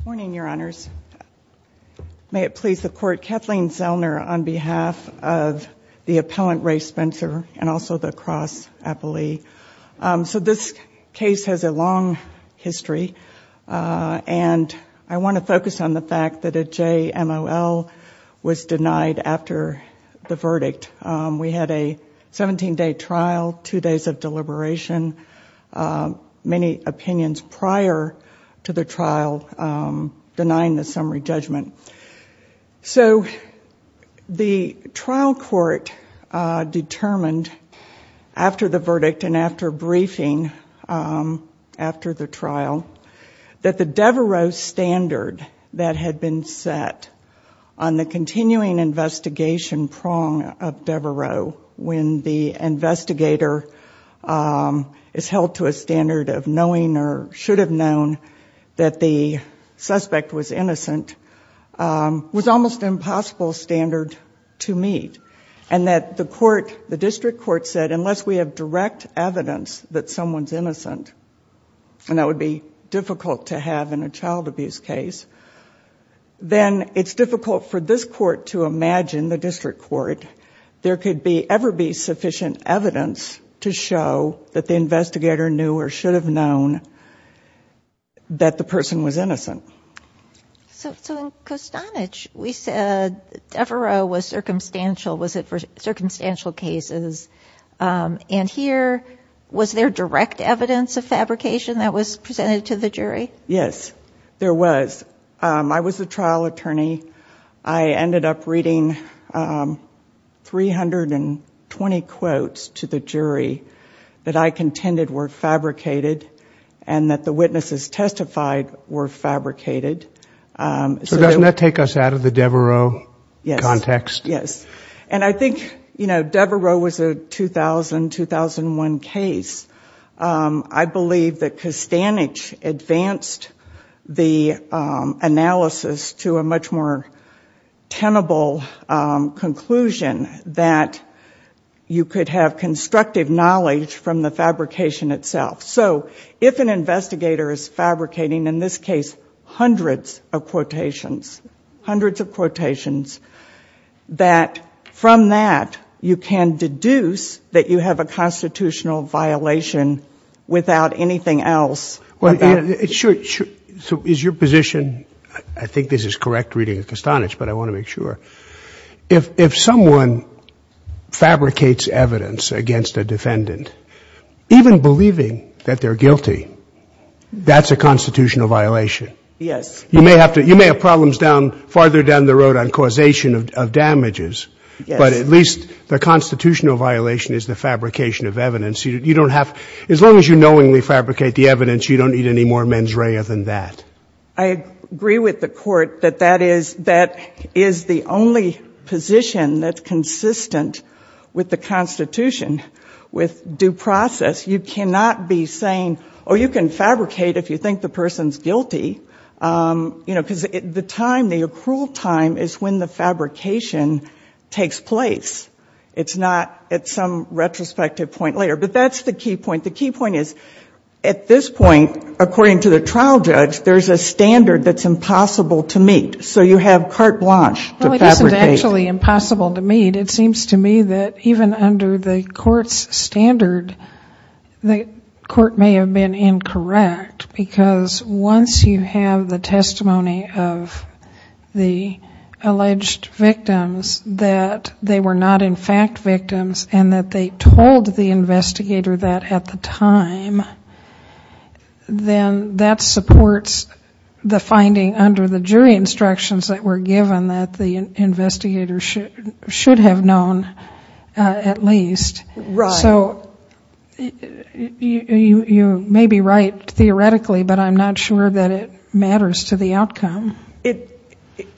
Good morning, Your Honors. May it please the Court, Kathleen Zellner on behalf of the appellant Ray Spencer and also the Krause appellee. So this case has a long history and I want to focus on the fact that a JMOL was denied after the verdict. We had a 17-day trial, two days of deliberation, many opinions prior to the trial denying the summary judgment. So the trial court determined after the verdict and after briefing after the trial that the Devereux standard that had been set on the continuing investigation prong of Devereux when the investigator is held to a standard of knowing or should have known that the suspect was innocent was almost an impossible standard to meet and that the court, the district court, said unless we have direct evidence that someone's innocent and that would be difficult to have in a child abuse case, then it's difficult for this court to imagine, the district court, there could be ever be sufficient evidence to show that the investigator knew or should have known that the person was innocent. So in Kostanich we said Devereux was circumstantial, was it for circumstantial cases and here was there direct evidence of Yes, there was. I was a trial attorney. I ended up reading 320 quotes to the jury that I contended were fabricated and that the witnesses testified were fabricated. So doesn't that take us out of the Devereux context? Yes, and I think Devereux was a 2000-2001 case. I believe that Kostanich advanced the analysis to a much more tenable conclusion that you could have constructive knowledge from the fabrication itself. So if an investigator is fabricating, in this case, hundreds of quotations, hundreds of quotations, that from that you can deduce that you have a constitutional violation without anything else. So is your position, I think this is correct reading of Kostanich, but I want to make sure, if someone fabricates evidence against a defendant, even believing that they're guilty, that's a constitutional violation? Yes. You may have problems down, farther down the road on causation of damages, but at least the constitutional violation is the fabrication of evidence. You don't have, as long as you knowingly fabricate the evidence, you don't need any more mens rea than that. I agree with the Court that that is the only position that's consistent with the Constitution, with due process. You cannot be saying, oh, you can fabricate if you think the person's guilty, you know, because the time, the accrual time is when the fabrication takes place. It's not at some retrospective point later. But that's the key point. The key point is, at this point, according to the trial judge, there's a standard that's impossible to meet. So you have carte blanche to fabricate. It seems to me that even under the Court's standard, the Court may have been incorrect, because once you have the testimony of the alleged victims, that they were not, in fact, victims, and that they told the investigator that at the time, then that supports the finding under the jury instructions that were given, that the investigator was correct. The investigator should have known, at least. Right. So you may be right, theoretically, but I'm not sure that it matters to the outcome.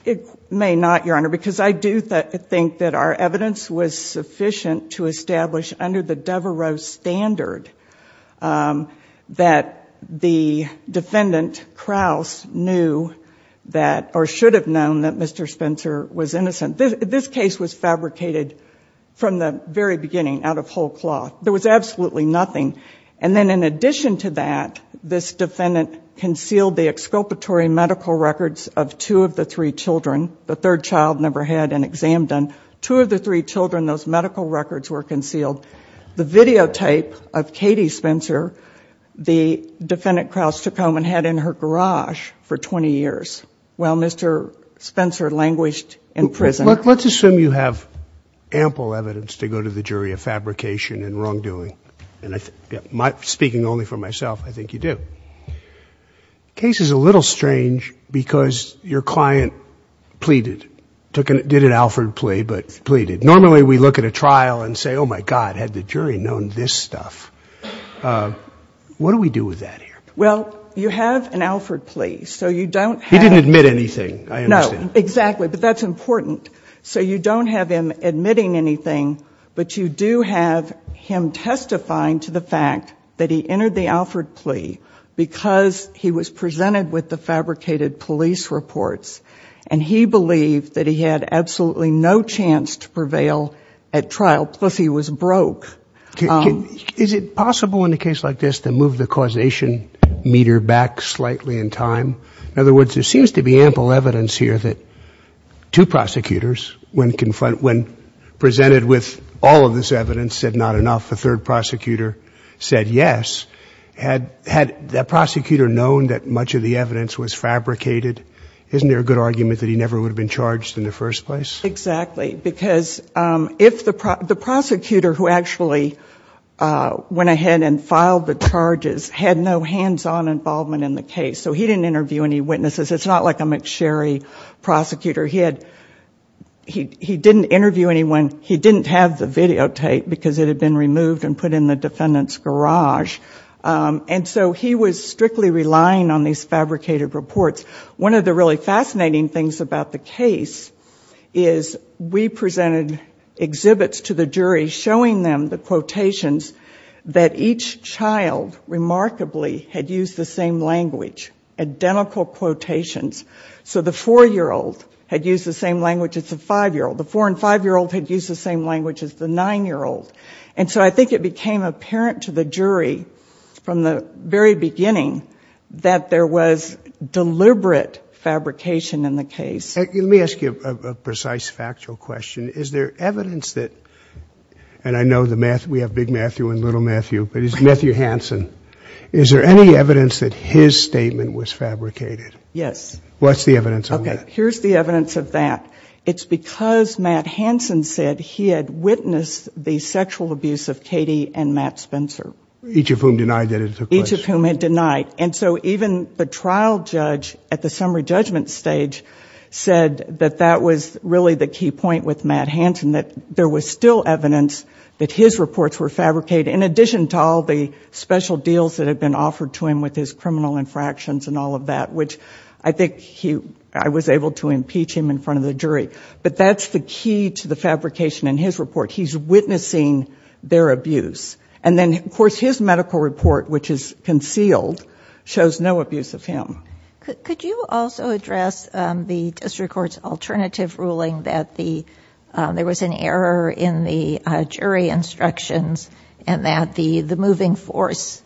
It may not, Your Honor, because I do think that our evidence was sufficient to establish under the Devereux standard that the defendant, Krauss, knew that, or should have known that Mr. Spencer was innocent. This case was fabricated from the very beginning, out of whole cloth. There was absolutely nothing. And then, in addition to that, this defendant concealed the exculpatory medical records of two of the three children. The third child never had an exam done. Two of the three children, those medical records were concealed. The videotape of Katie Spencer, the defendant, Krauss, took home and had in her garage for 20 years while Mr. Spencer languished in prison. Let's assume you have ample evidence to go to the jury of fabrication and wrongdoing. And speaking only for myself, I think you do. The case is a little strange because your client pleaded, did an Alford plea, but pleaded. Normally, we look at a trial and say, oh, my God, had the jury known this stuff. What do we do with that here? Well, you have an Alford plea, so you don't have to. He didn't admit anything, I understand. No, exactly. But that's important. So you don't have him admitting anything, but you do have him testifying to the fact that he entered the Alford plea because he was presented with the fabricated police reports. And he believed that he had absolutely no chance to prevail at trial, plus he was broke. Is it possible in a case like this to move the causation meter back slightly in time? In other words, there seems to be ample evidence here that two prosecutors, when presented with all of this evidence, said not enough. The third prosecutor said yes. Had that prosecutor known that much of the evidence was fabricated, isn't there a good argument that he never would have been charged in the first place? Exactly, because if the prosecutor who actually went ahead and filed the charges had no hands-on involvement in the case, so he didn't interview any witnesses. It's not like a McSherry prosecutor. He didn't interview anyone. He didn't have the videotape because it had been removed and put in the defendant's garage. And so he was strictly relying on these fabricated reports. One of the really fascinating things about the case is we presented exhibits to the jury showing them the quotations that each child remarkably had used the same language, identical quotations. So the 4-year-old had used the same language as the 5-year-old. The 4- and 5-year-old had used the same language as the 9-year-old. And so I think it became apparent to the jury from the very beginning that there was deliberate fabrication in the case. Let me ask you a precise factual question. Is there evidence that, and I know we have big Matthew and little Matthew, but it's Matthew Hansen. Is there any evidence that his statement was fabricated? Yes. What's the evidence on that? Okay, here's the evidence of that. It's because Matt Hansen said he had witnessed the sexual abuse of Katie and Matt Spencer. Each of whom denied that it took place? Each of whom had denied. And so even the trial judge at the summary judgment stage said that that was really the key point with Matt Hansen, that there was still evidence that his reports were fabricated in addition to all the special deals that had been offered to him with his criminal infractions and all of that, which I think I was able to impeach him in front of the jury. But that's the key to the fabrication in his report. He's witnessing their abuse. And then, of course, his medical report, which is concealed, shows no abuse of him. Could you also address the district court's alternative ruling that there was an error in the jury instructions and that the moving force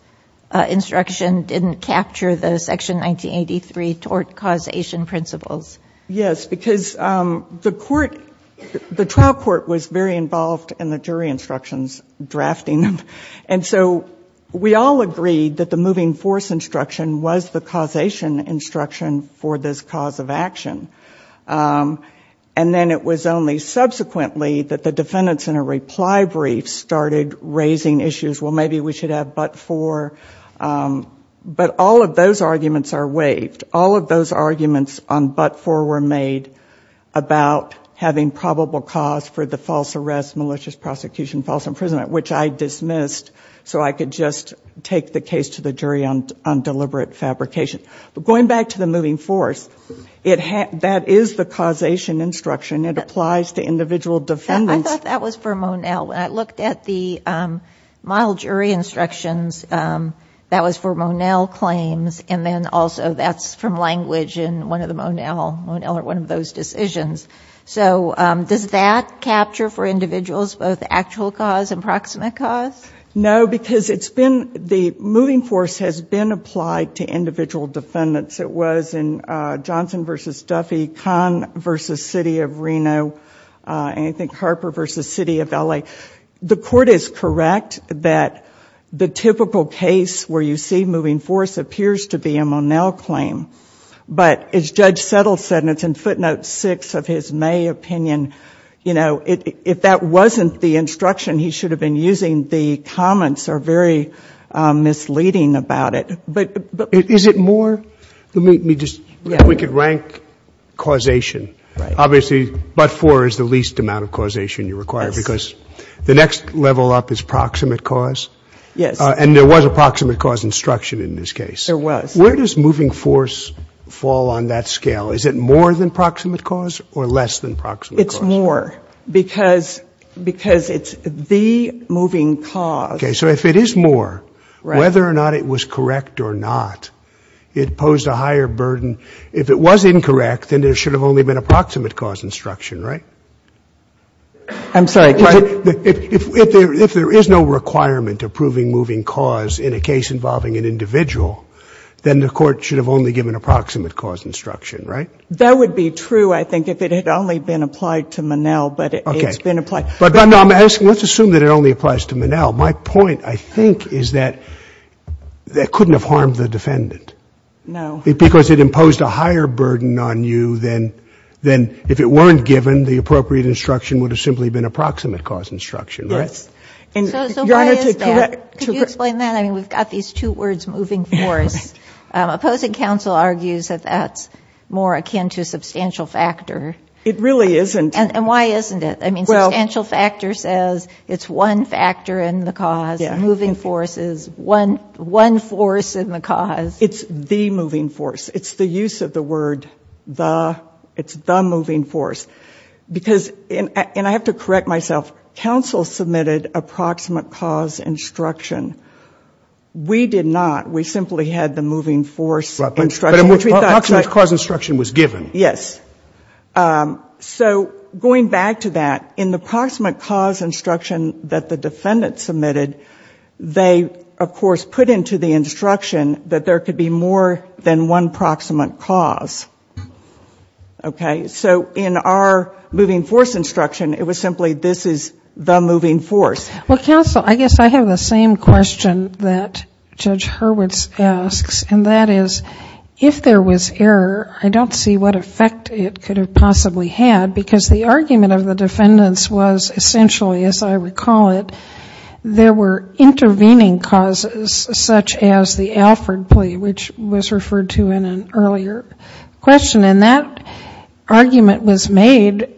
instruction didn't capture the Section 1983 tort causation principles? Yes, because the trial court was very involved in the jury instructions, drafting them. And so we all agreed that the moving force instruction was the causation instruction for this cause of action. And then it was only subsequently that the defendants in a reply brief started raising issues. Well, maybe we should have but for. But all of those arguments are waived. All of those arguments on but for were made about having probable cause for the false arrest, malicious prosecution, false imprisonment, which I dismissed so I could just take the case to the jury on deliberate fabrication. But going back to the moving force, that is the causation instruction. It applies to individual defendants. I thought that was for Monell. When I looked at the model jury instructions, that was for Monell claims, and then also that's from language in one of the Monell. Monell are one of those decisions. So does that capture for individuals both actual cause and proximate cause? No, because it's been the moving force has been applied to individual defendants. It was in Johnson v. Duffy, Kahn v. City of Reno, and I think Harper v. City of L.A. The court is correct that the typical case where you see moving force appears to be a Monell claim. But as Judge Settle said, and it's in footnote 6 of his May opinion, you know, if that wasn't the instruction he should have been using, the comments are very misleading about it. Is it more? We could rank causation. Obviously, but for is the least amount of causation you require because the next level up is proximate cause. Yes. And there was a proximate cause instruction in this case. There was. Where does moving force fall on that scale? Is it more than proximate cause or less than proximate cause? It's more because it's the moving cause. Okay. So if it is more, whether or not it was correct or not, it posed a higher burden. If it was incorrect, then there should have only been a proximate cause instruction, right? I'm sorry. If there is no requirement of proving moving cause in a case involving an individual, then the court should have only given a proximate cause instruction, right? That would be true, I think, if it had only been applied to Monell, but it's been applied. But I'm asking, let's assume that it only applies to Monell. My point, I think, is that that couldn't have harmed the defendant. No. Because it imposed a higher burden on you than if it weren't given, the appropriate instruction would have simply been a proximate cause instruction, right? Yes. So why is that? Could you explain that? I mean, we've got these two words, moving force. Opposing counsel argues that that's more akin to substantial factor. It really isn't. And why isn't it? I mean, substantial factor says it's one factor in the cause. Moving force is one force in the cause. It's the moving force. It's the use of the word the. It's the moving force. Because, and I have to correct myself, counsel submitted a proximate cause instruction. We did not. We simply had the moving force instruction. Proximate cause instruction was given. Yes. So going back to that, in the proximate cause instruction that the defendant submitted, they, of course, put into the instruction that there could be more than one proximate cause. Okay? So in our moving force instruction, it was simply this is the moving force. Well, counsel, I guess I have the same question that Judge Hurwitz asks, and that is, if there was error, I don't see what effect it could have possibly had, because the argument of the defendants was essentially, as I recall it, there were intervening causes such as the Alford plea, which was referred to in an earlier question. And that argument was made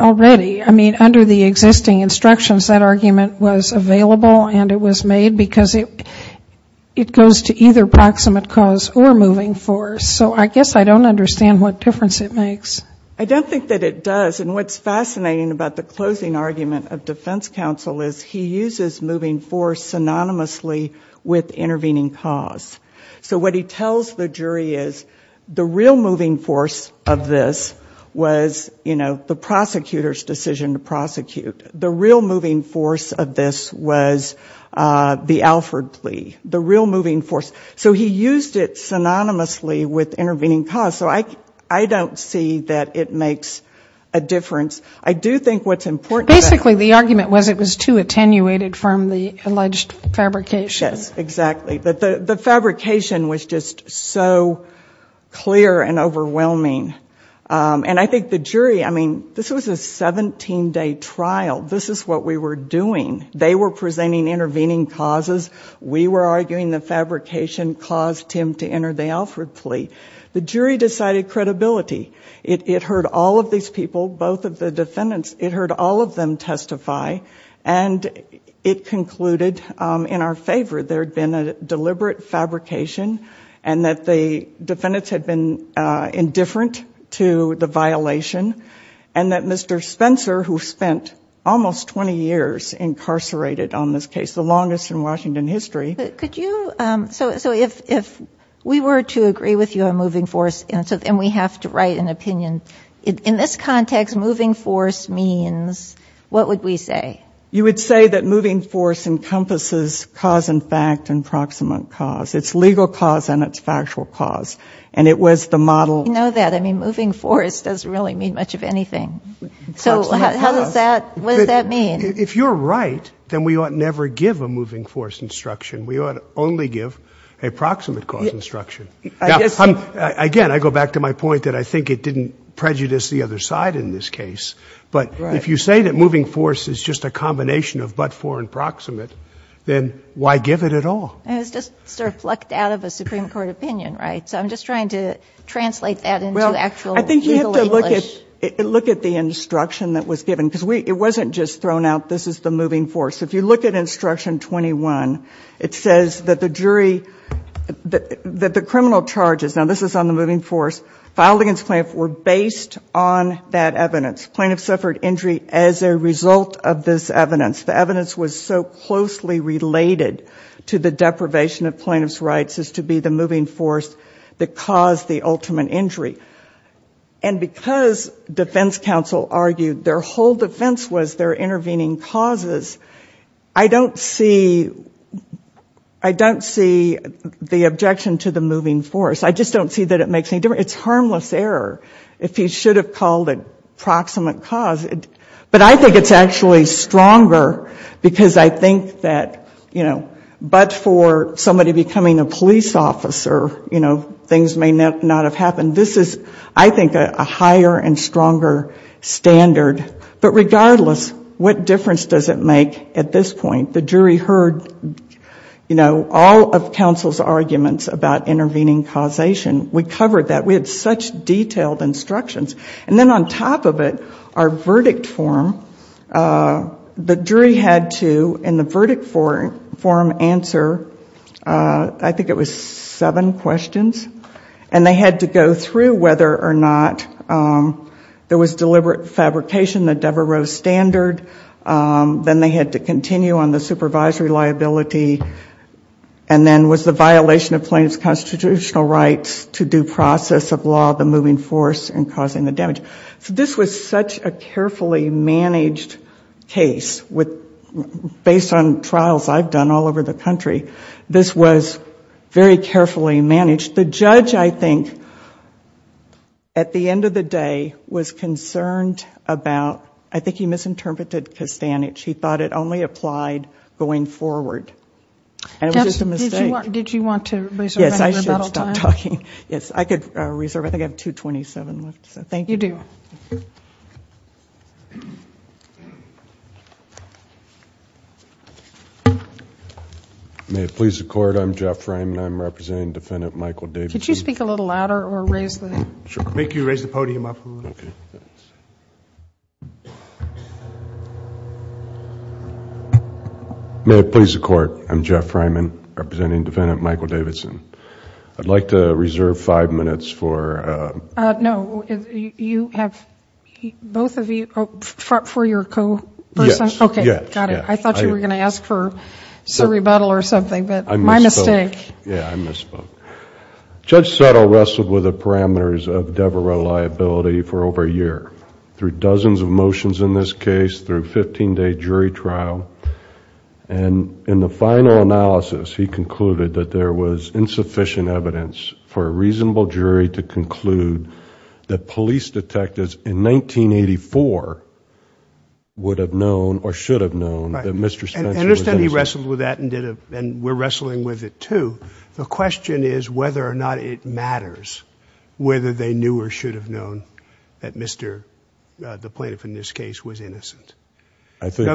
already. I mean, under the existing instructions, that argument was available and it was made because it goes to either proximate cause or moving force. So I guess I don't understand what difference it makes. I don't think that it does. And what's fascinating about the closing argument of defense counsel is he uses moving force synonymously with intervening cause. So what he tells the jury is the real moving force of this was, you know, the prosecutor's decision to prosecute. The real moving force of this was the Alford plea. The real moving force. So he used it synonymously with intervening cause. So I don't see that it makes a difference. I do think what's important to that. Basically, the argument was it was too attenuated from the alleged fabrication. Yes, exactly. The fabrication was just so clear and overwhelming. And I think the jury, I mean, this was a 17-day trial. This is what we were doing. They were presenting intervening causes. We were arguing the fabrication caused him to enter the Alford plea. The jury decided credibility. It heard all of these people, both of the defendants. It heard all of them testify. And it concluded in our favor there had been a deliberate fabrication and that the defendants had been indifferent to the violation and that Mr. Spencer, who spent almost 20 years incarcerated on this case, the longest in Washington history. But could you, so if we were to agree with you on moving force and we have to write an opinion, in this context, moving force means what would we say? You would say that moving force encompasses cause and fact and proximate cause. It's legal cause and it's factual cause. And it was the model. You know that. I mean, moving force doesn't really mean much of anything. So how does that, what does that mean? If you're right, then we ought never give a moving force instruction. We ought only give a proximate cause instruction. Now, again, I go back to my point that I think it didn't prejudice the other side in this case. But if you say that moving force is just a combination of but, for, and proximate, then why give it at all? It was just sort of plucked out of a Supreme Court opinion, right? So I'm just trying to translate that into actual legal English. Well, I think you have to look at the instruction that was given. Because it wasn't just thrown out, this is the moving force. If you look at instruction 21, it says that the jury, that the criminal charges, now this is on the moving force, filed against plaintiff were based on that evidence. Plaintiff suffered injury as a result of this evidence. The evidence was so closely related to the deprivation of plaintiff's rights as to be the moving force that caused the ultimate injury. And because defense counsel argued their whole defense was their intervening causes, I don't see, I don't see the objection to the moving force. I just don't see that it makes any difference. It's harmless error if you should have called it proximate cause. But I think it's actually stronger because I think that, you know, but for somebody becoming a police officer, you know, things may not have happened. This is, I think, a higher and stronger standard. But regardless, what difference does it make at this point? The jury heard, you know, all of counsel's arguments about intervening causation. We covered that. We had such detailed instructions. And then on top of it, our verdict form, the jury had to, in the verdict form, answer I think it was seven questions. And they had to go through whether or not there was deliberate fabrication, the Devereux standard. Then they had to continue on the supervisory liability. And then was the violation of plaintiff's constitutional rights to due in the damage. So this was such a carefully managed case. Based on trials I've done all over the country, this was very carefully managed. The judge, I think, at the end of the day was concerned about, I think he misinterpreted Castanets. He thought it only applied going forward. And it was just a mistake. I'm sorry. Did you want to reserve your battle time? Yes, I should stop talking. Yes, I could reserve. I think I have 227 left. So thank you. You do. May it please the Court, I'm Jeff Freiman. I'm representing Defendant Michael Davis. Could you speak a little louder or raise the... Sure. May I have you raise the podium up a little? May it please the Court, I'm Jeff Freiman. I'm representing Defendant Michael Davidson. I'd like to reserve five minutes for... No, you have... both of you... for your co-person? Yes. Okay. Yes. Got it. I thought you were going to ask for a rebuttal or something. But my mistake. I misspoke. Yeah, I misspoke. Judge Settle wrestled with the parameters of Devereux liability for over a year. Through dozens of motions in this case, through fifteen day jury trial, and in the final analysis, he concluded that there was insufficient evidence for a reasonable jury to conclude that police detectives in 1984 would have known or should have known that Mr. Spencer was innocent. Right. And understand he wrestled with that and we're wrestling with it too. The question is whether or not it matters whether they knew or should have known that Mr.... the plaintiff in this case was innocent. I think...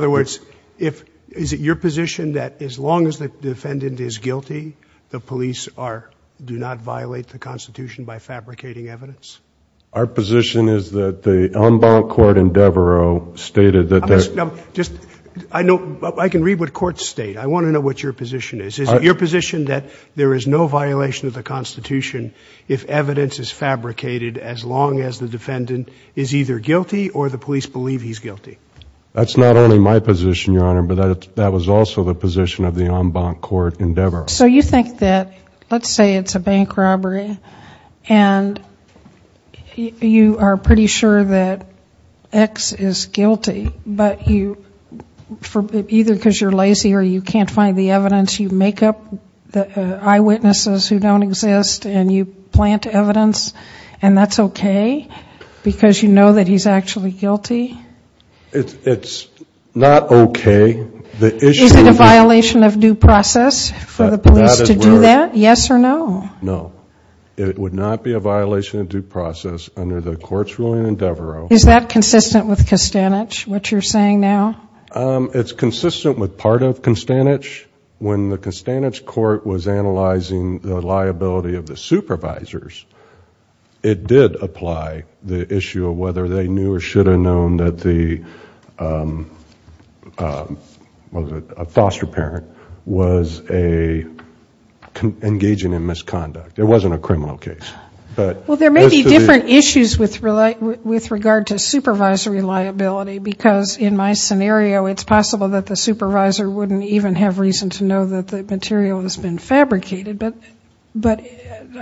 Is it your position that as long as the defendant is guilty, the police are... do not violate the Constitution by fabricating evidence? Our position is that the en banc court in Devereux stated that there... Now, just... I know... I can read what courts state. I want to know what your position is. Is it your position that there is no violation of the Constitution if evidence is fabricated as long as the defendant is either guilty or the police believe he's guilty? That's not only my position, Your Honor, but that was also the position of the en banc court in Devereux. So you think that, let's say it's a bank robbery and you are pretty sure that X is guilty, but you... either because you're lazy or you can't find the evidence, you make up eyewitnesses who don't exist and you plant evidence and that's okay because you know that he's actually guilty? It's not okay. The issue... Is it a violation of due process for the police to do that, yes or no? No. It would not be a violation of due process under the court's ruling in Devereux. Is that consistent with Kostanich, what you're saying now? It's consistent with part of Kostanich. When the Kostanich court was analyzing the liability of the supervisors, it did apply the issue of whether they knew or should have known that the foster parent was engaging in misconduct. It wasn't a criminal case. There may be different issues with regard to supervisory liability because in my scenario it's possible that the supervisor wouldn't even have reason to know that the material has been fabricated, but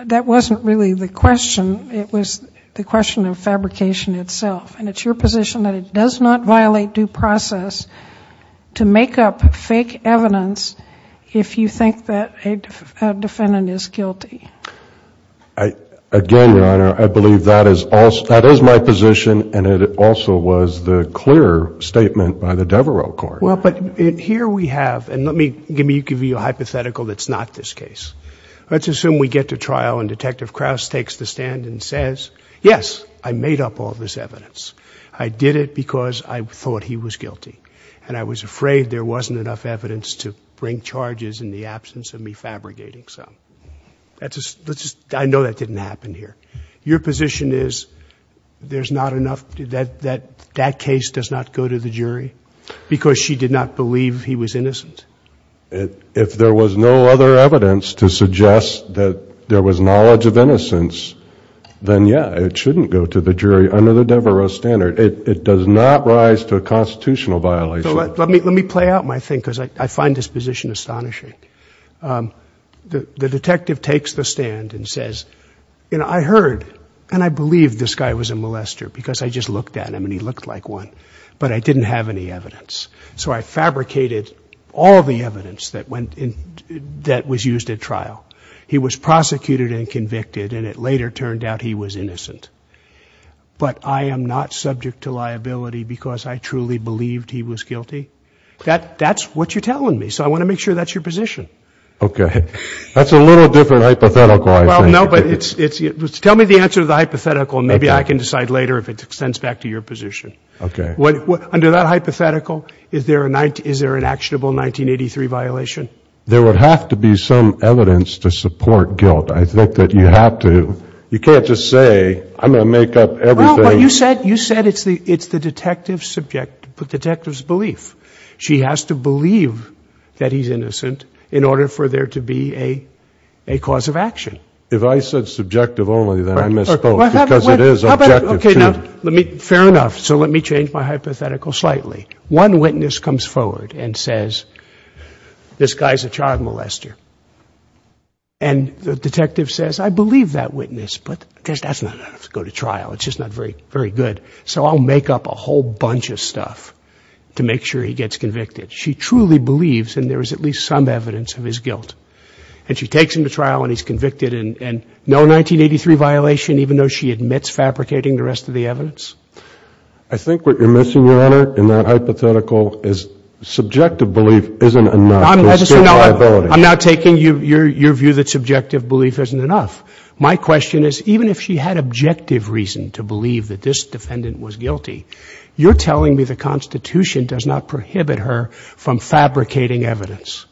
that wasn't really the question. It was the question of fabrication itself and it's your position that it does not violate due process to make up fake evidence if you think that a defendant is guilty. Again, Your Honor, I believe that is my position and it also was the clear statement by the Devereux court. But here we have, and let me give you a hypothetical that's not this case. Let's assume we get to trial and Detective Krauss takes the stand and says, yes, I made up all this evidence. I did it because I thought he was guilty and I was afraid there wasn't enough evidence to bring charges in the absence of me fabricating some. I know that didn't happen here. Your position is that that case does not go to the jury because she did not believe he was innocent? If there was no other evidence to suggest that there was knowledge of innocence, then yeah, it shouldn't go to the jury under the Devereux standard. It does not rise to a constitutional violation. Let me play out my thing because I find this position astonishing. The detective takes the stand and says, I heard and I believe this guy was a molester because I just looked at him and he looked like one, but I didn't have any evidence. So I fabricated all the evidence that was used at trial. He was prosecuted and convicted and it later turned out he was innocent. But I am not subject to liability because I truly believed he was guilty? That's what you're telling me. So I want to make sure that's your position. Okay. That's a little different hypothetical. Well, no, but tell me the answer to the hypothetical. Maybe I can decide later if it extends back to your position. Okay. Under that hypothetical, is there an actionable 1983 violation? There would have to be some evidence to support guilt. I think that you have to. You can't just say, I'm going to make up everything. You said it's the detective's belief. She has to believe that he's innocent in order for there to be a cause of action. If I said subjective only, then I misspoke because it is objective. Okay. Fair enough. So let me change my hypothetical slightly. One witness comes forward and says, this guy's a child molester. And the detective says, I believe that witness, but that's not enough to go to trial. It's just not very, very good. So I'll make up a whole bunch of stuff to make sure he gets convicted. She truly believes, and there is at least some evidence of his guilt. And she takes him to trial and he's convicted. And no 1983 violation, even though she admits fabricating the rest of the evidence? I think what you're missing, Your Honor, in that hypothetical is subjective belief isn't enough. I'm not taking your view that subjective belief isn't enough. My question is, even if she had objective reason to believe that this defendant was guilty, you're telling me the Constitution does not prohibit her from fabricating evidence.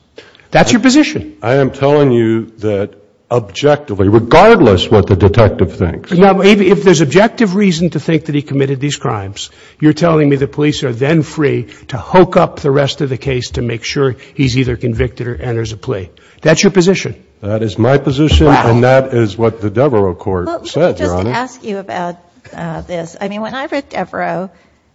That's your position. I am telling you that objectively, regardless what the detective thinks. Now, if there's objective reason to think that he committed these crimes, you're telling me the police are then free to hook up the rest of the case to make sure he's either convicted or enters a plea. That's your position. Okay. That is my position and that is what the Devereux Court said, Your Honor. Let me just ask you about this. I mean, when I read Devereux,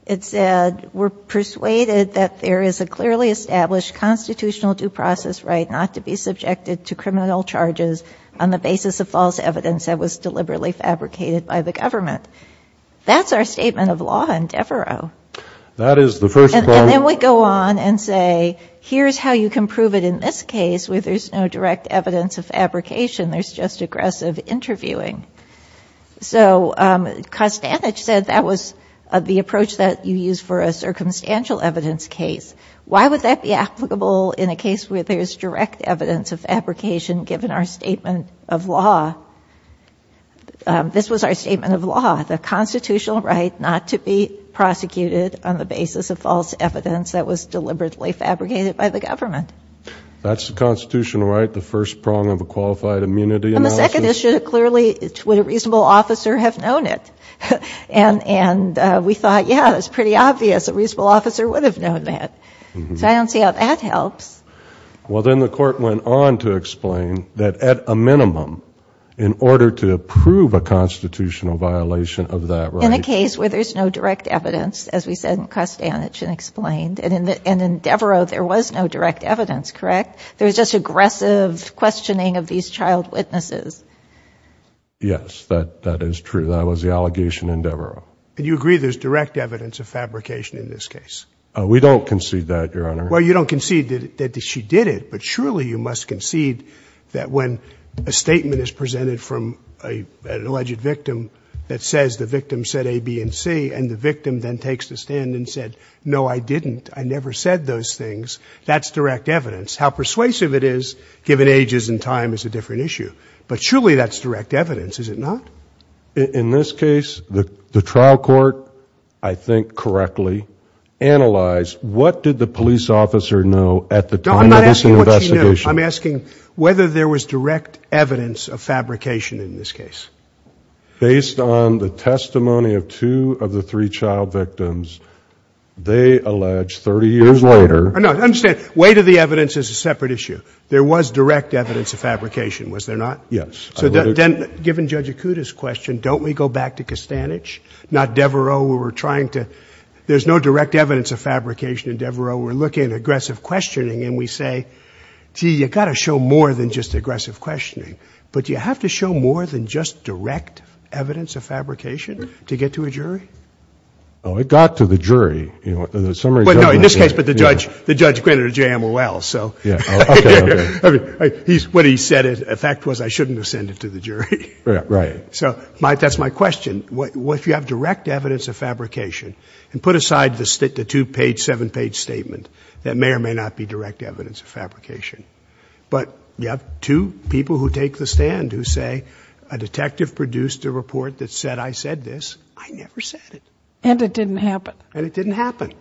it said, we're persuaded that there is a clearly established constitutional due process right not to be subjected to criminal charges on the basis of false evidence that was deliberately fabricated by the government. That's our statement of law in Devereux. That is the first part. And then we go on and say, here's how you can prove it in this case where there's no direct evidence of fabrication, there's just aggressive interviewing. So, Costanich said that was the approach that you use for a circumstantial evidence case. Why would that be applicable in a case where there's direct evidence of This was our statement of law, the constitutional right not to be prosecuted on the basis of false evidence that was deliberately fabricated by the government. That's the constitutional right, the first prong of a qualified immunity. And the second issue, clearly, would a reasonable officer have known it? And we thought, yeah, that's pretty obvious. A reasonable officer would have known that. So I don't see how that helps. Well, then the court went on to explain that at a minimum, in order to prove a constitutional violation of that right. In a case where there's no direct evidence, as we said in Costanich and explained, and in Devereux there was no direct evidence, correct? There was just aggressive questioning of these child witnesses. Yes, that is true. That was the allegation in Devereux. And you agree there's direct evidence of fabrication in this case? We don't concede that, Your Honor. Well, you don't concede that she did it, but surely you must concede that when a statement is presented from an alleged victim that says the victim said A, B, and C, and the victim then takes the stand and said, no, I didn't, I never said those things, that's direct evidence. How persuasive it is, given ages and time, is a different issue. But surely that's direct evidence, is it not? In this case, the trial court, I think correctly, analyzed what did the police officer know at the time of this investigation. No, I'm not asking what she knew. I'm asking whether there was direct evidence of fabrication in this case. Based on the testimony of two of the three child victims, they allege 30 years later. No, I understand. Weight of the evidence is a separate issue. There was direct evidence of fabrication, was there not? Yes. So then, given Judge Acuda's question, don't we go back to Costanich? Not Devereaux. There's no direct evidence of fabrication in Devereaux. We're looking at aggressive questioning, and we say, gee, you've got to show more than just aggressive questioning. But do you have to show more than just direct evidence of fabrication to get to a jury? No, it got to the jury. In this case, but the judge granted a JMOL. What he said, the fact was I shouldn't have sent it to the jury. Right. So that's my question. What if you have direct evidence of fabrication and put aside the two-page, seven-page statement that may or may not be direct evidence of fabrication, but you have two people who take the stand who say, a detective produced a report that said I said this, I never said it. And it didn't happen. And it didn't happen.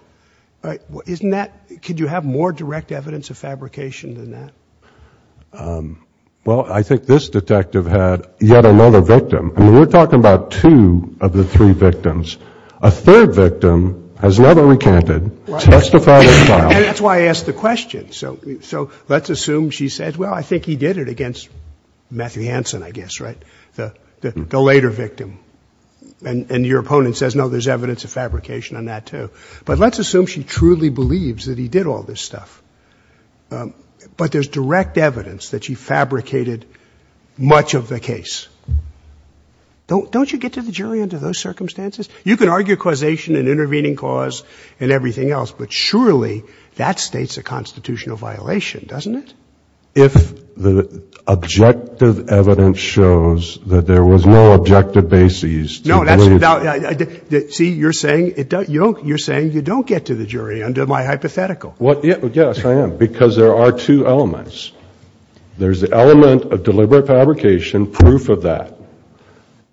Isn't that, could you have more direct evidence of fabrication than that? Well, I think this detective had yet another victim. I mean, we're talking about two of the three victims. A third victim has never recanted, testified or filed. And that's why I asked the question. So let's assume she said, well, I think he did it against Matthew Hansen, I guess, right, the later victim. And your opponent says, no, there's evidence of fabrication on that, too. But let's assume she truly believes that he did all this stuff. But there's direct evidence that she fabricated much of the case. Don't you get to the jury under those circumstances? You can argue causation and intervening cause and everything else, but surely that states a constitutional violation, doesn't it? If the objective evidence shows that there was no objective basis to believe that. No, that's, see, you're saying you don't get to the jury under my hypothetical. Yes, I am, because there are two elements. There's the element of deliberate fabrication, proof of that.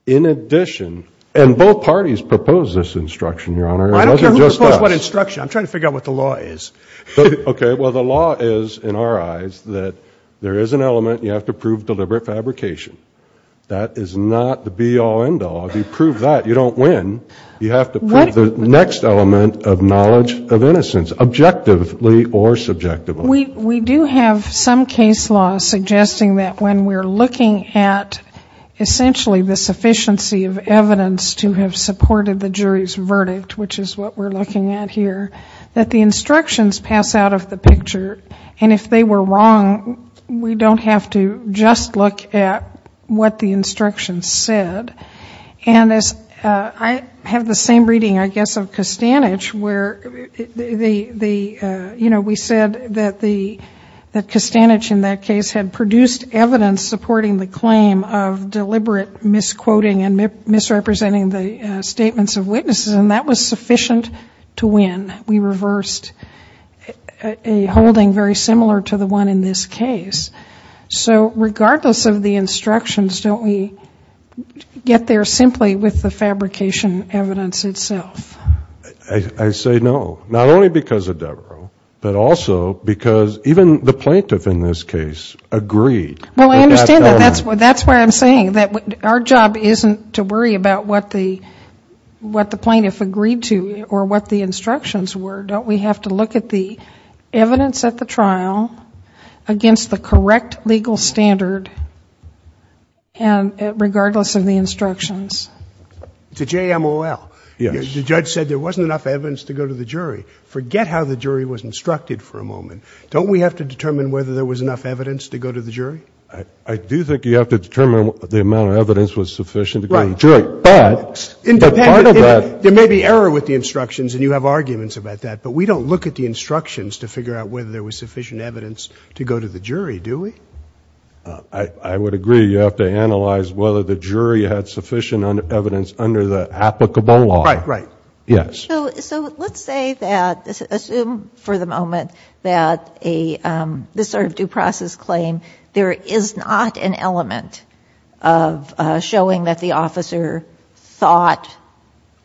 In addition, and both parties proposed this instruction, Your Honor. I don't care who proposed what instruction. I'm trying to figure out what the law is. Okay, well, the law is, in our eyes, that there is an element you have to prove deliberate fabrication. That is not the be all end all. If you prove that, you don't win. You have to prove the next element of knowledge of innocence. Objectively or subjectively. We do have some case law suggesting that when we're looking at essentially the sufficiency of evidence to have supported the jury's verdict, which is what we're looking at here, that the instructions pass out of the picture. And if they were wrong, we don't have to just look at what the instructions said. And I have the same reading, I guess, of Kostanich where, you know, we said that Kostanich in that case had produced evidence supporting the claim of deliberate misquoting and misrepresenting the statements of witnesses, and that was sufficient to win. We reversed a holding very similar to the one in this case. So regardless of the instructions, don't we get there simply with the fabrication evidence itself? I say no. Not only because of Devereux, but also because even the plaintiff in this case agreed. Well, I understand that. That's why I'm saying that our job isn't to worry about what the plaintiff agreed to or what the instructions were. Don't we have to look at the evidence at the trial against the correct legal standard, regardless of the instructions? To JMOL. Yes. The judge said there wasn't enough evidence to go to the jury. Forget how the jury was instructed for a moment. Don't we have to determine whether there was enough evidence to go to the jury? I do think you have to determine the amount of evidence was sufficient to go to the jury. Right. But part of that. There may be error with the instructions and you have arguments about that, but we don't look at the instructions to figure out whether there was sufficient evidence to go to the jury, do we? I would agree. You have to analyze whether the jury had sufficient evidence under the applicable law. Right, right. Yes. So let's say that, assume for the moment that this sort of due process claim, there is not an element of showing that the officer thought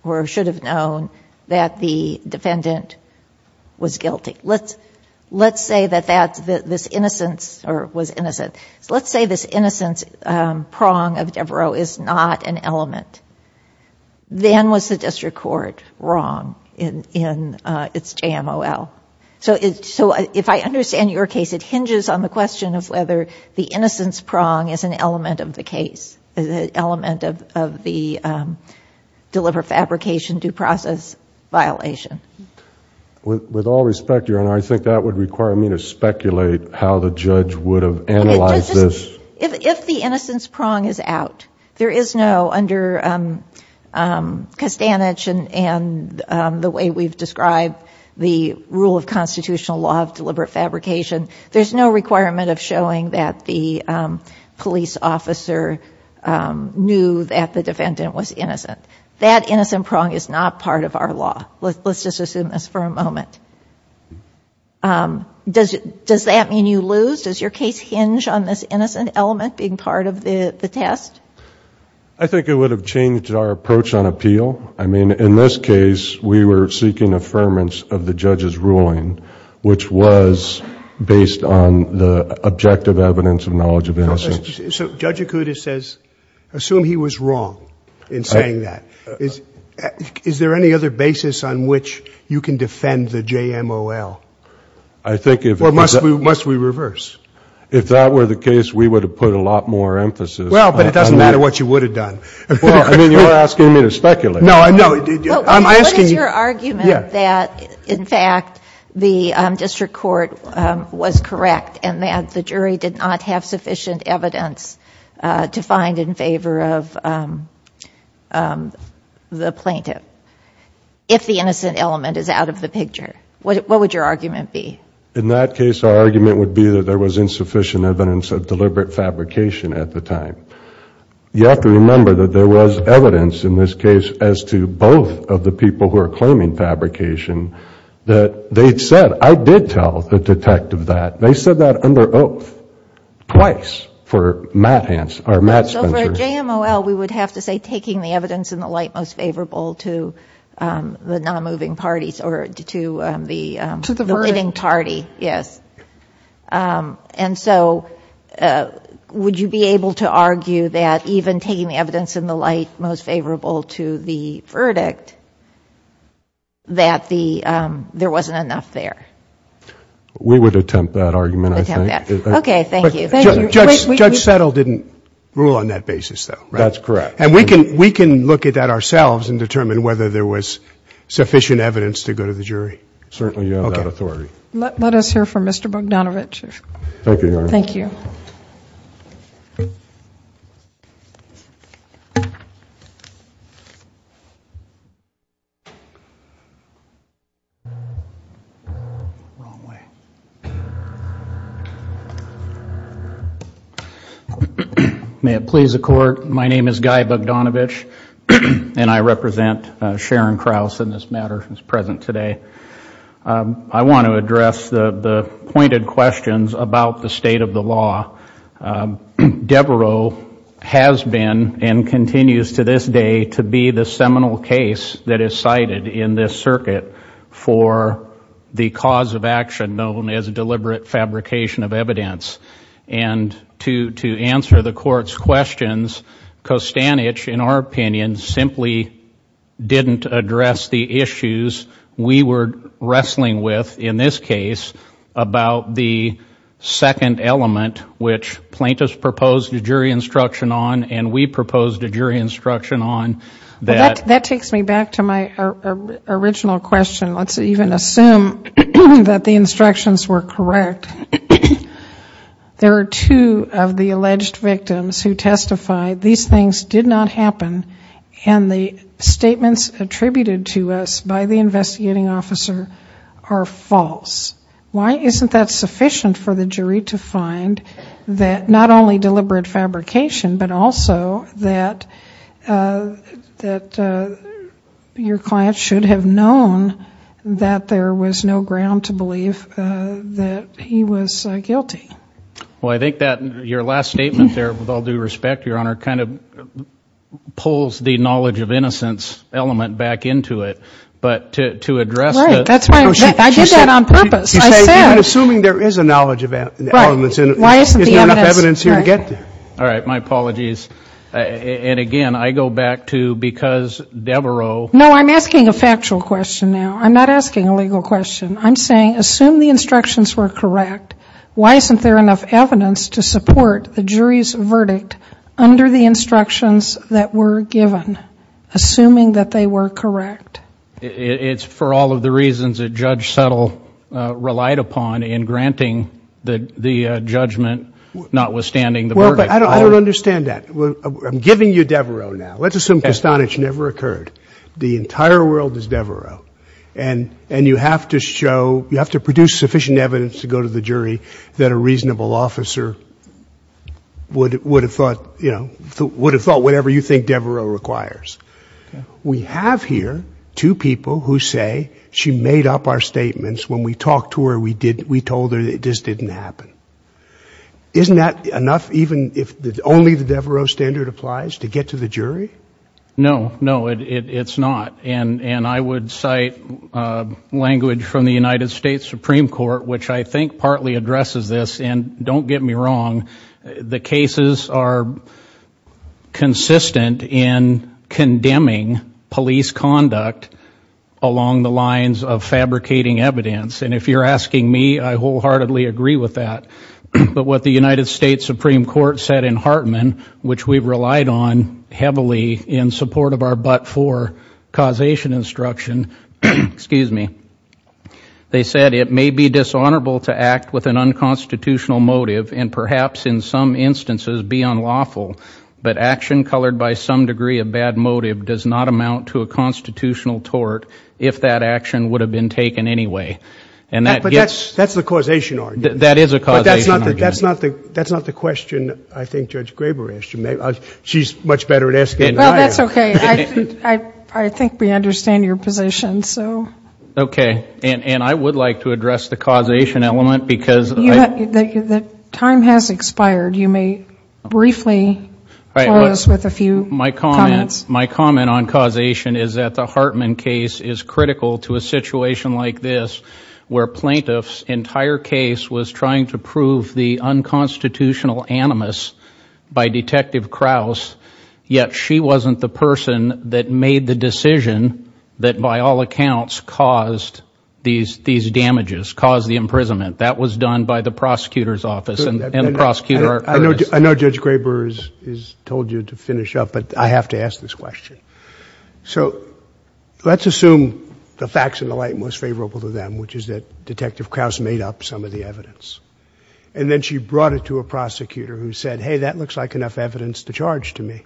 or should have known that the defendant was guilty. Let's say that this innocence prong of Devereaux is not an element. Then was the district court wrong in its JMOL? So if I understand your case, it hinges on the question of whether the innocence prong is an element of the case, is an element of the deliberate fabrication due process violation. With all respect, Your Honor, I think that would require me to speculate how the judge would have analyzed this. If the innocence prong is out, there is no, under Costanich and the way we've described the rule of constitutional law of deliberate fabrication, there's no requirement of showing that the police officer knew that the defendant was innocent. That innocent prong is not part of our law. Let's just assume this for a moment. Does that mean you lose? Does your case hinge on this innocent element being part of the test? I think it would have changed our approach on appeal. I mean, in this case, we were seeking affirmance of the judge's ruling, which was based on the objective evidence of knowledge of innocence. So Judge Acuda says, assume he was wrong in saying that. Is there any other basis on which you can defend the JMOL? Or must we reverse? If that were the case, we would have put a lot more emphasis on that. Well, but it doesn't matter what you would have done. Well, I mean, you're asking me to speculate. No, I'm asking you. What is your argument that, in fact, the district court was correct and that the jury did not have sufficient evidence to find in favor of the plaintiff, if the innocent element is out of the picture? What would your argument be? In that case, our argument would be that there was insufficient evidence of deliberate fabrication at the time. You have to remember that there was evidence, in this case, as to both of the people who are claiming fabrication that they'd said, I did tell the detective that. They said that under oath twice for Matt Spencer. So for a JMOL, we would have to say taking the evidence in the light most favorable to the non-moving parties or to the living party. To the verdict. Yes. And so would you be able to argue that even taking the evidence in the light most favorable to the verdict, that there wasn't enough there? We would attempt that argument, I think. Attempt that. Okay, thank you. Judge Settle didn't rule on that basis, though, right? That's correct. And we can look at that ourselves and determine whether there was sufficient evidence to go to the jury. Certainly you have that authority. Okay. Let us hear from Mr. Bogdanovich. Thank you, Your Honor. Thank you. May it please the Court. My name is Guy Bogdanovich, and I represent Sharon Krause in this matter who is present today. I want to address the pointed questions about the state of the law. Devereaux has been and continues to this day to be the seminal case that is cited in this circuit for the cause of action known as deliberate fabrication of evidence. And to answer the Court's questions, Kostanich, in our opinion, simply didn't address the issues we were wrestling with in this case about the second element which plaintiffs proposed a jury instruction on and we proposed a jury instruction on. That takes me back to my original question. Let's even assume that the instructions were correct. There are two of the alleged victims who testified these things did not happen and the statements attributed to us by the investigating officer are false. Why isn't that sufficient for the jury to find that not only deliberate fabrication but also that your client should have known that there was no ground to believe that he was guilty? Well, I think that your last statement there, with all due respect, Your Honor, kind of pulls the knowledge of innocence element back into it. But to address it. Right. That's why I did that on purpose. I said. You're assuming there is a knowledge of elements. Right. Why isn't the evidence. Is there enough evidence here to get there? All right. My apologies. And again, I go back to because Devereaux. No, I'm asking a factual question now. I'm not asking a legal question. I'm saying assume the instructions were correct. Why isn't there enough evidence to support the jury's verdict under the instructions that were given, assuming that they were correct? It's for all of the reasons that Judge Settle relied upon in granting the judgment, notwithstanding the verdict. But I don't understand that. I'm giving you Devereaux now. Let's assume Kastanis never occurred. The entire world is Devereaux. And you have to show, you have to produce sufficient evidence to go to the jury that a reasonable officer would have thought, you know, would have thought whatever you think Devereaux requires. We have here two people who say she made up our statements. When we talked to her, we told her it just didn't happen. Isn't that enough even if only the Devereaux standard applies to get to the jury? No, no, it's not. And I would cite language from the United States Supreme Court, which I think partly addresses this, and don't get me wrong, the cases are consistent in condemning police conduct along the lines of fabricating evidence. And if you're asking me, I wholeheartedly agree with that. But what the United States Supreme Court said in Hartman, which we've relied on heavily in support of our but-for causation instruction, they said it may be dishonorable to act with an unconstitutional motive and perhaps in some instances be unlawful, but action colored by some degree of bad motive does not amount to a constitutional tort if that action would have been taken anyway. But that's the causation argument. That is a causation argument. But that's not the question I think Judge Graber asked you. She's much better at asking it than I am. Well, that's okay. I think we understand your position, so. Okay. And I would like to address the causation element because I... My comment on causation is that the Hartman case is critical to a situation like this where plaintiff's entire case was trying to prove the unconstitutional animus by Detective Krause, yet she wasn't the person that made the decision that by all accounts caused these damages, caused the imprisonment. That was done by the prosecutor's office and the prosecutor... Judge Graber has told you to finish up, but I have to ask this question. So let's assume the facts in the light most favorable to them, which is that Detective Krause made up some of the evidence, and then she brought it to a prosecutor who said, hey, that looks like enough evidence to charge to me.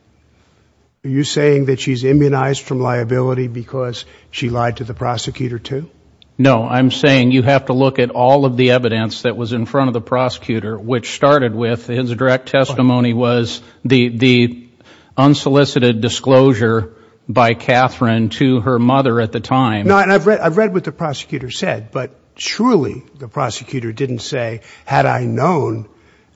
Are you saying that she's immunized from liability because she lied to the prosecutor too? No. I'm saying you have to look at all of the evidence that was in front of the prosecutor, which started with his direct testimony was the unsolicited disclosure by Catherine to her mother at the time. No, and I've read what the prosecutor said, but surely the prosecutor didn't say, had I known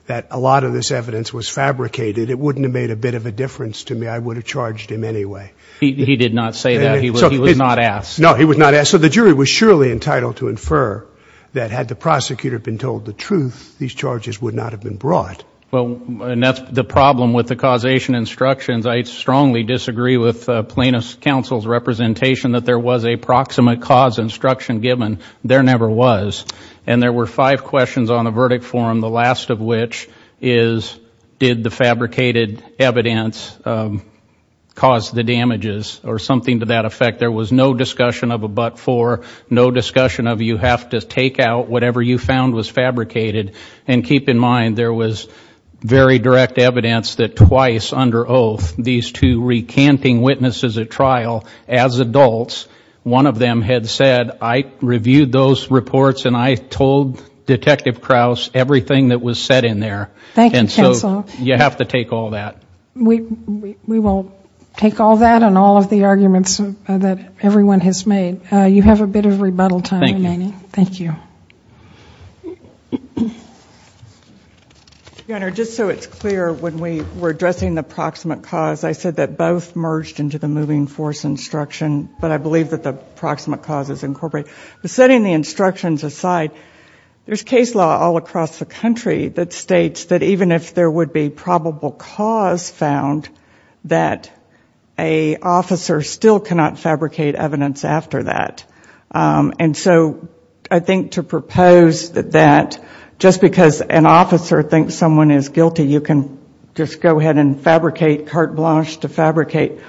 that a lot of this evidence was fabricated, it wouldn't have made a bit of a difference to me. I would have charged him anyway. He did not say that. He was not asked. No, he was not asked. So the jury was surely entitled to infer that had the prosecutor been told the truth, these charges would not have been brought. Well, and that's the problem with the causation instructions. I strongly disagree with plaintiff's counsel's representation that there was a proximate cause instruction given. There never was. And there were five questions on the verdict form, the last of which is did the fabricated evidence cause the damages or something to that effect. There was no discussion of a but for, no discussion of you have to take out whatever you found was fabricated. And keep in mind, there was very direct evidence that twice under oath, these two recanting witnesses at trial as adults, one of them had said, I reviewed those reports and I told Detective Krause everything that was said in there. Thank you, counsel. And so you have to take all that. We will take all that and all of the arguments that everyone has made. You have a bit of rebuttal time remaining. Thank you. Your Honor, just so it's clear, when we were addressing the proximate cause, I said that both merged into the moving force instruction, but I believe that the proximate cause is incorporated. Setting the instructions aside, there's case law all across the country that states that even if there would be probable cause found, that an officer still cannot fabricate evidence after that. And so I think to propose that just because an officer thinks someone is guilty, you can just go ahead and fabricate carte blanche to fabricate.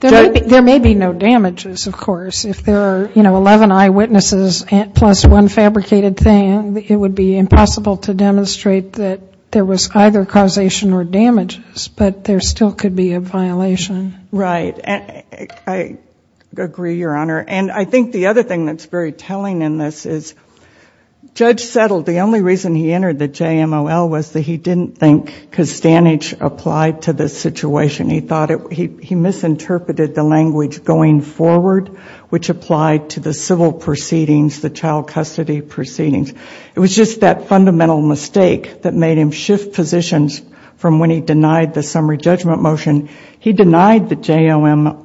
There may be no damages, of course. If there are, you know, 11 eyewitnesses plus one fabricated thing, it would be impossible to demonstrate that there was either causation or damages, but there still could be a violation. Right. I agree, Your Honor. And I think the other thing that's very telling in this is Judge Settle, the only reason he entered the JMOL was that he didn't think costanage applied to this situation. He thought he misinterpreted the language going forward, which applied to the civil proceedings, the child custody proceedings. It was just that fundamental mistake that made him shift positions from when he denied the summary judgment motion. He denied the JMOL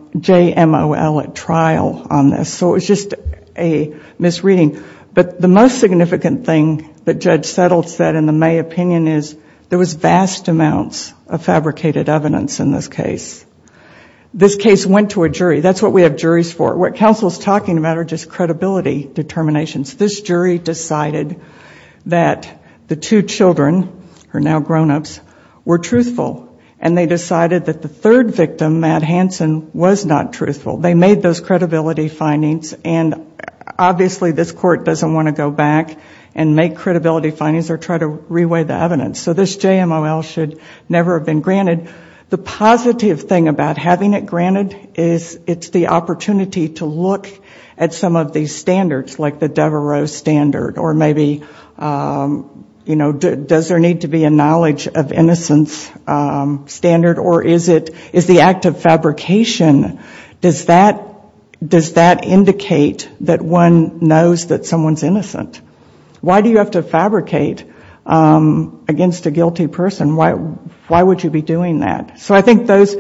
at trial on this. So it was just a misreading. But the most significant thing that Judge Settle said in the May opinion is there was vast amounts of fabricated evidence in this case. This case went to a jury. That's what we have juries for. What counsel is talking about are just credibility determinations. This jury decided that the two children, who are now grownups, were truthful, and they decided that the third victim, Matt Hanson, was not truthful. They made those credibility findings. And obviously this court doesn't want to go back and make credibility findings or try to reweigh the evidence. So this JMOL should never have been granted. The positive thing about having it granted is it's the opportunity to look at some of these standards, like the Devereux standard or maybe, you know, does there need to be a knowledge of innocence standard, or is the act of fabrication, does that indicate that one knows that someone's innocent? Why do you have to fabricate against a guilty person? Why would you be doing that? So I think those,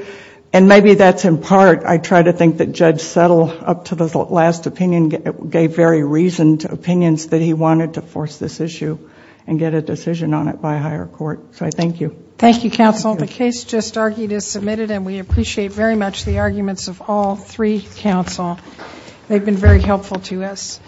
and maybe that's in part, I try to think that Judge Settle, up to the last opinion, gave very reasoned opinions that he wanted to force this issue and get a decision on it by a higher court. So I thank you. Thank you, counsel. The case just argued is submitted, and we appreciate very much the arguments of all three counsel. They've been very helpful to us.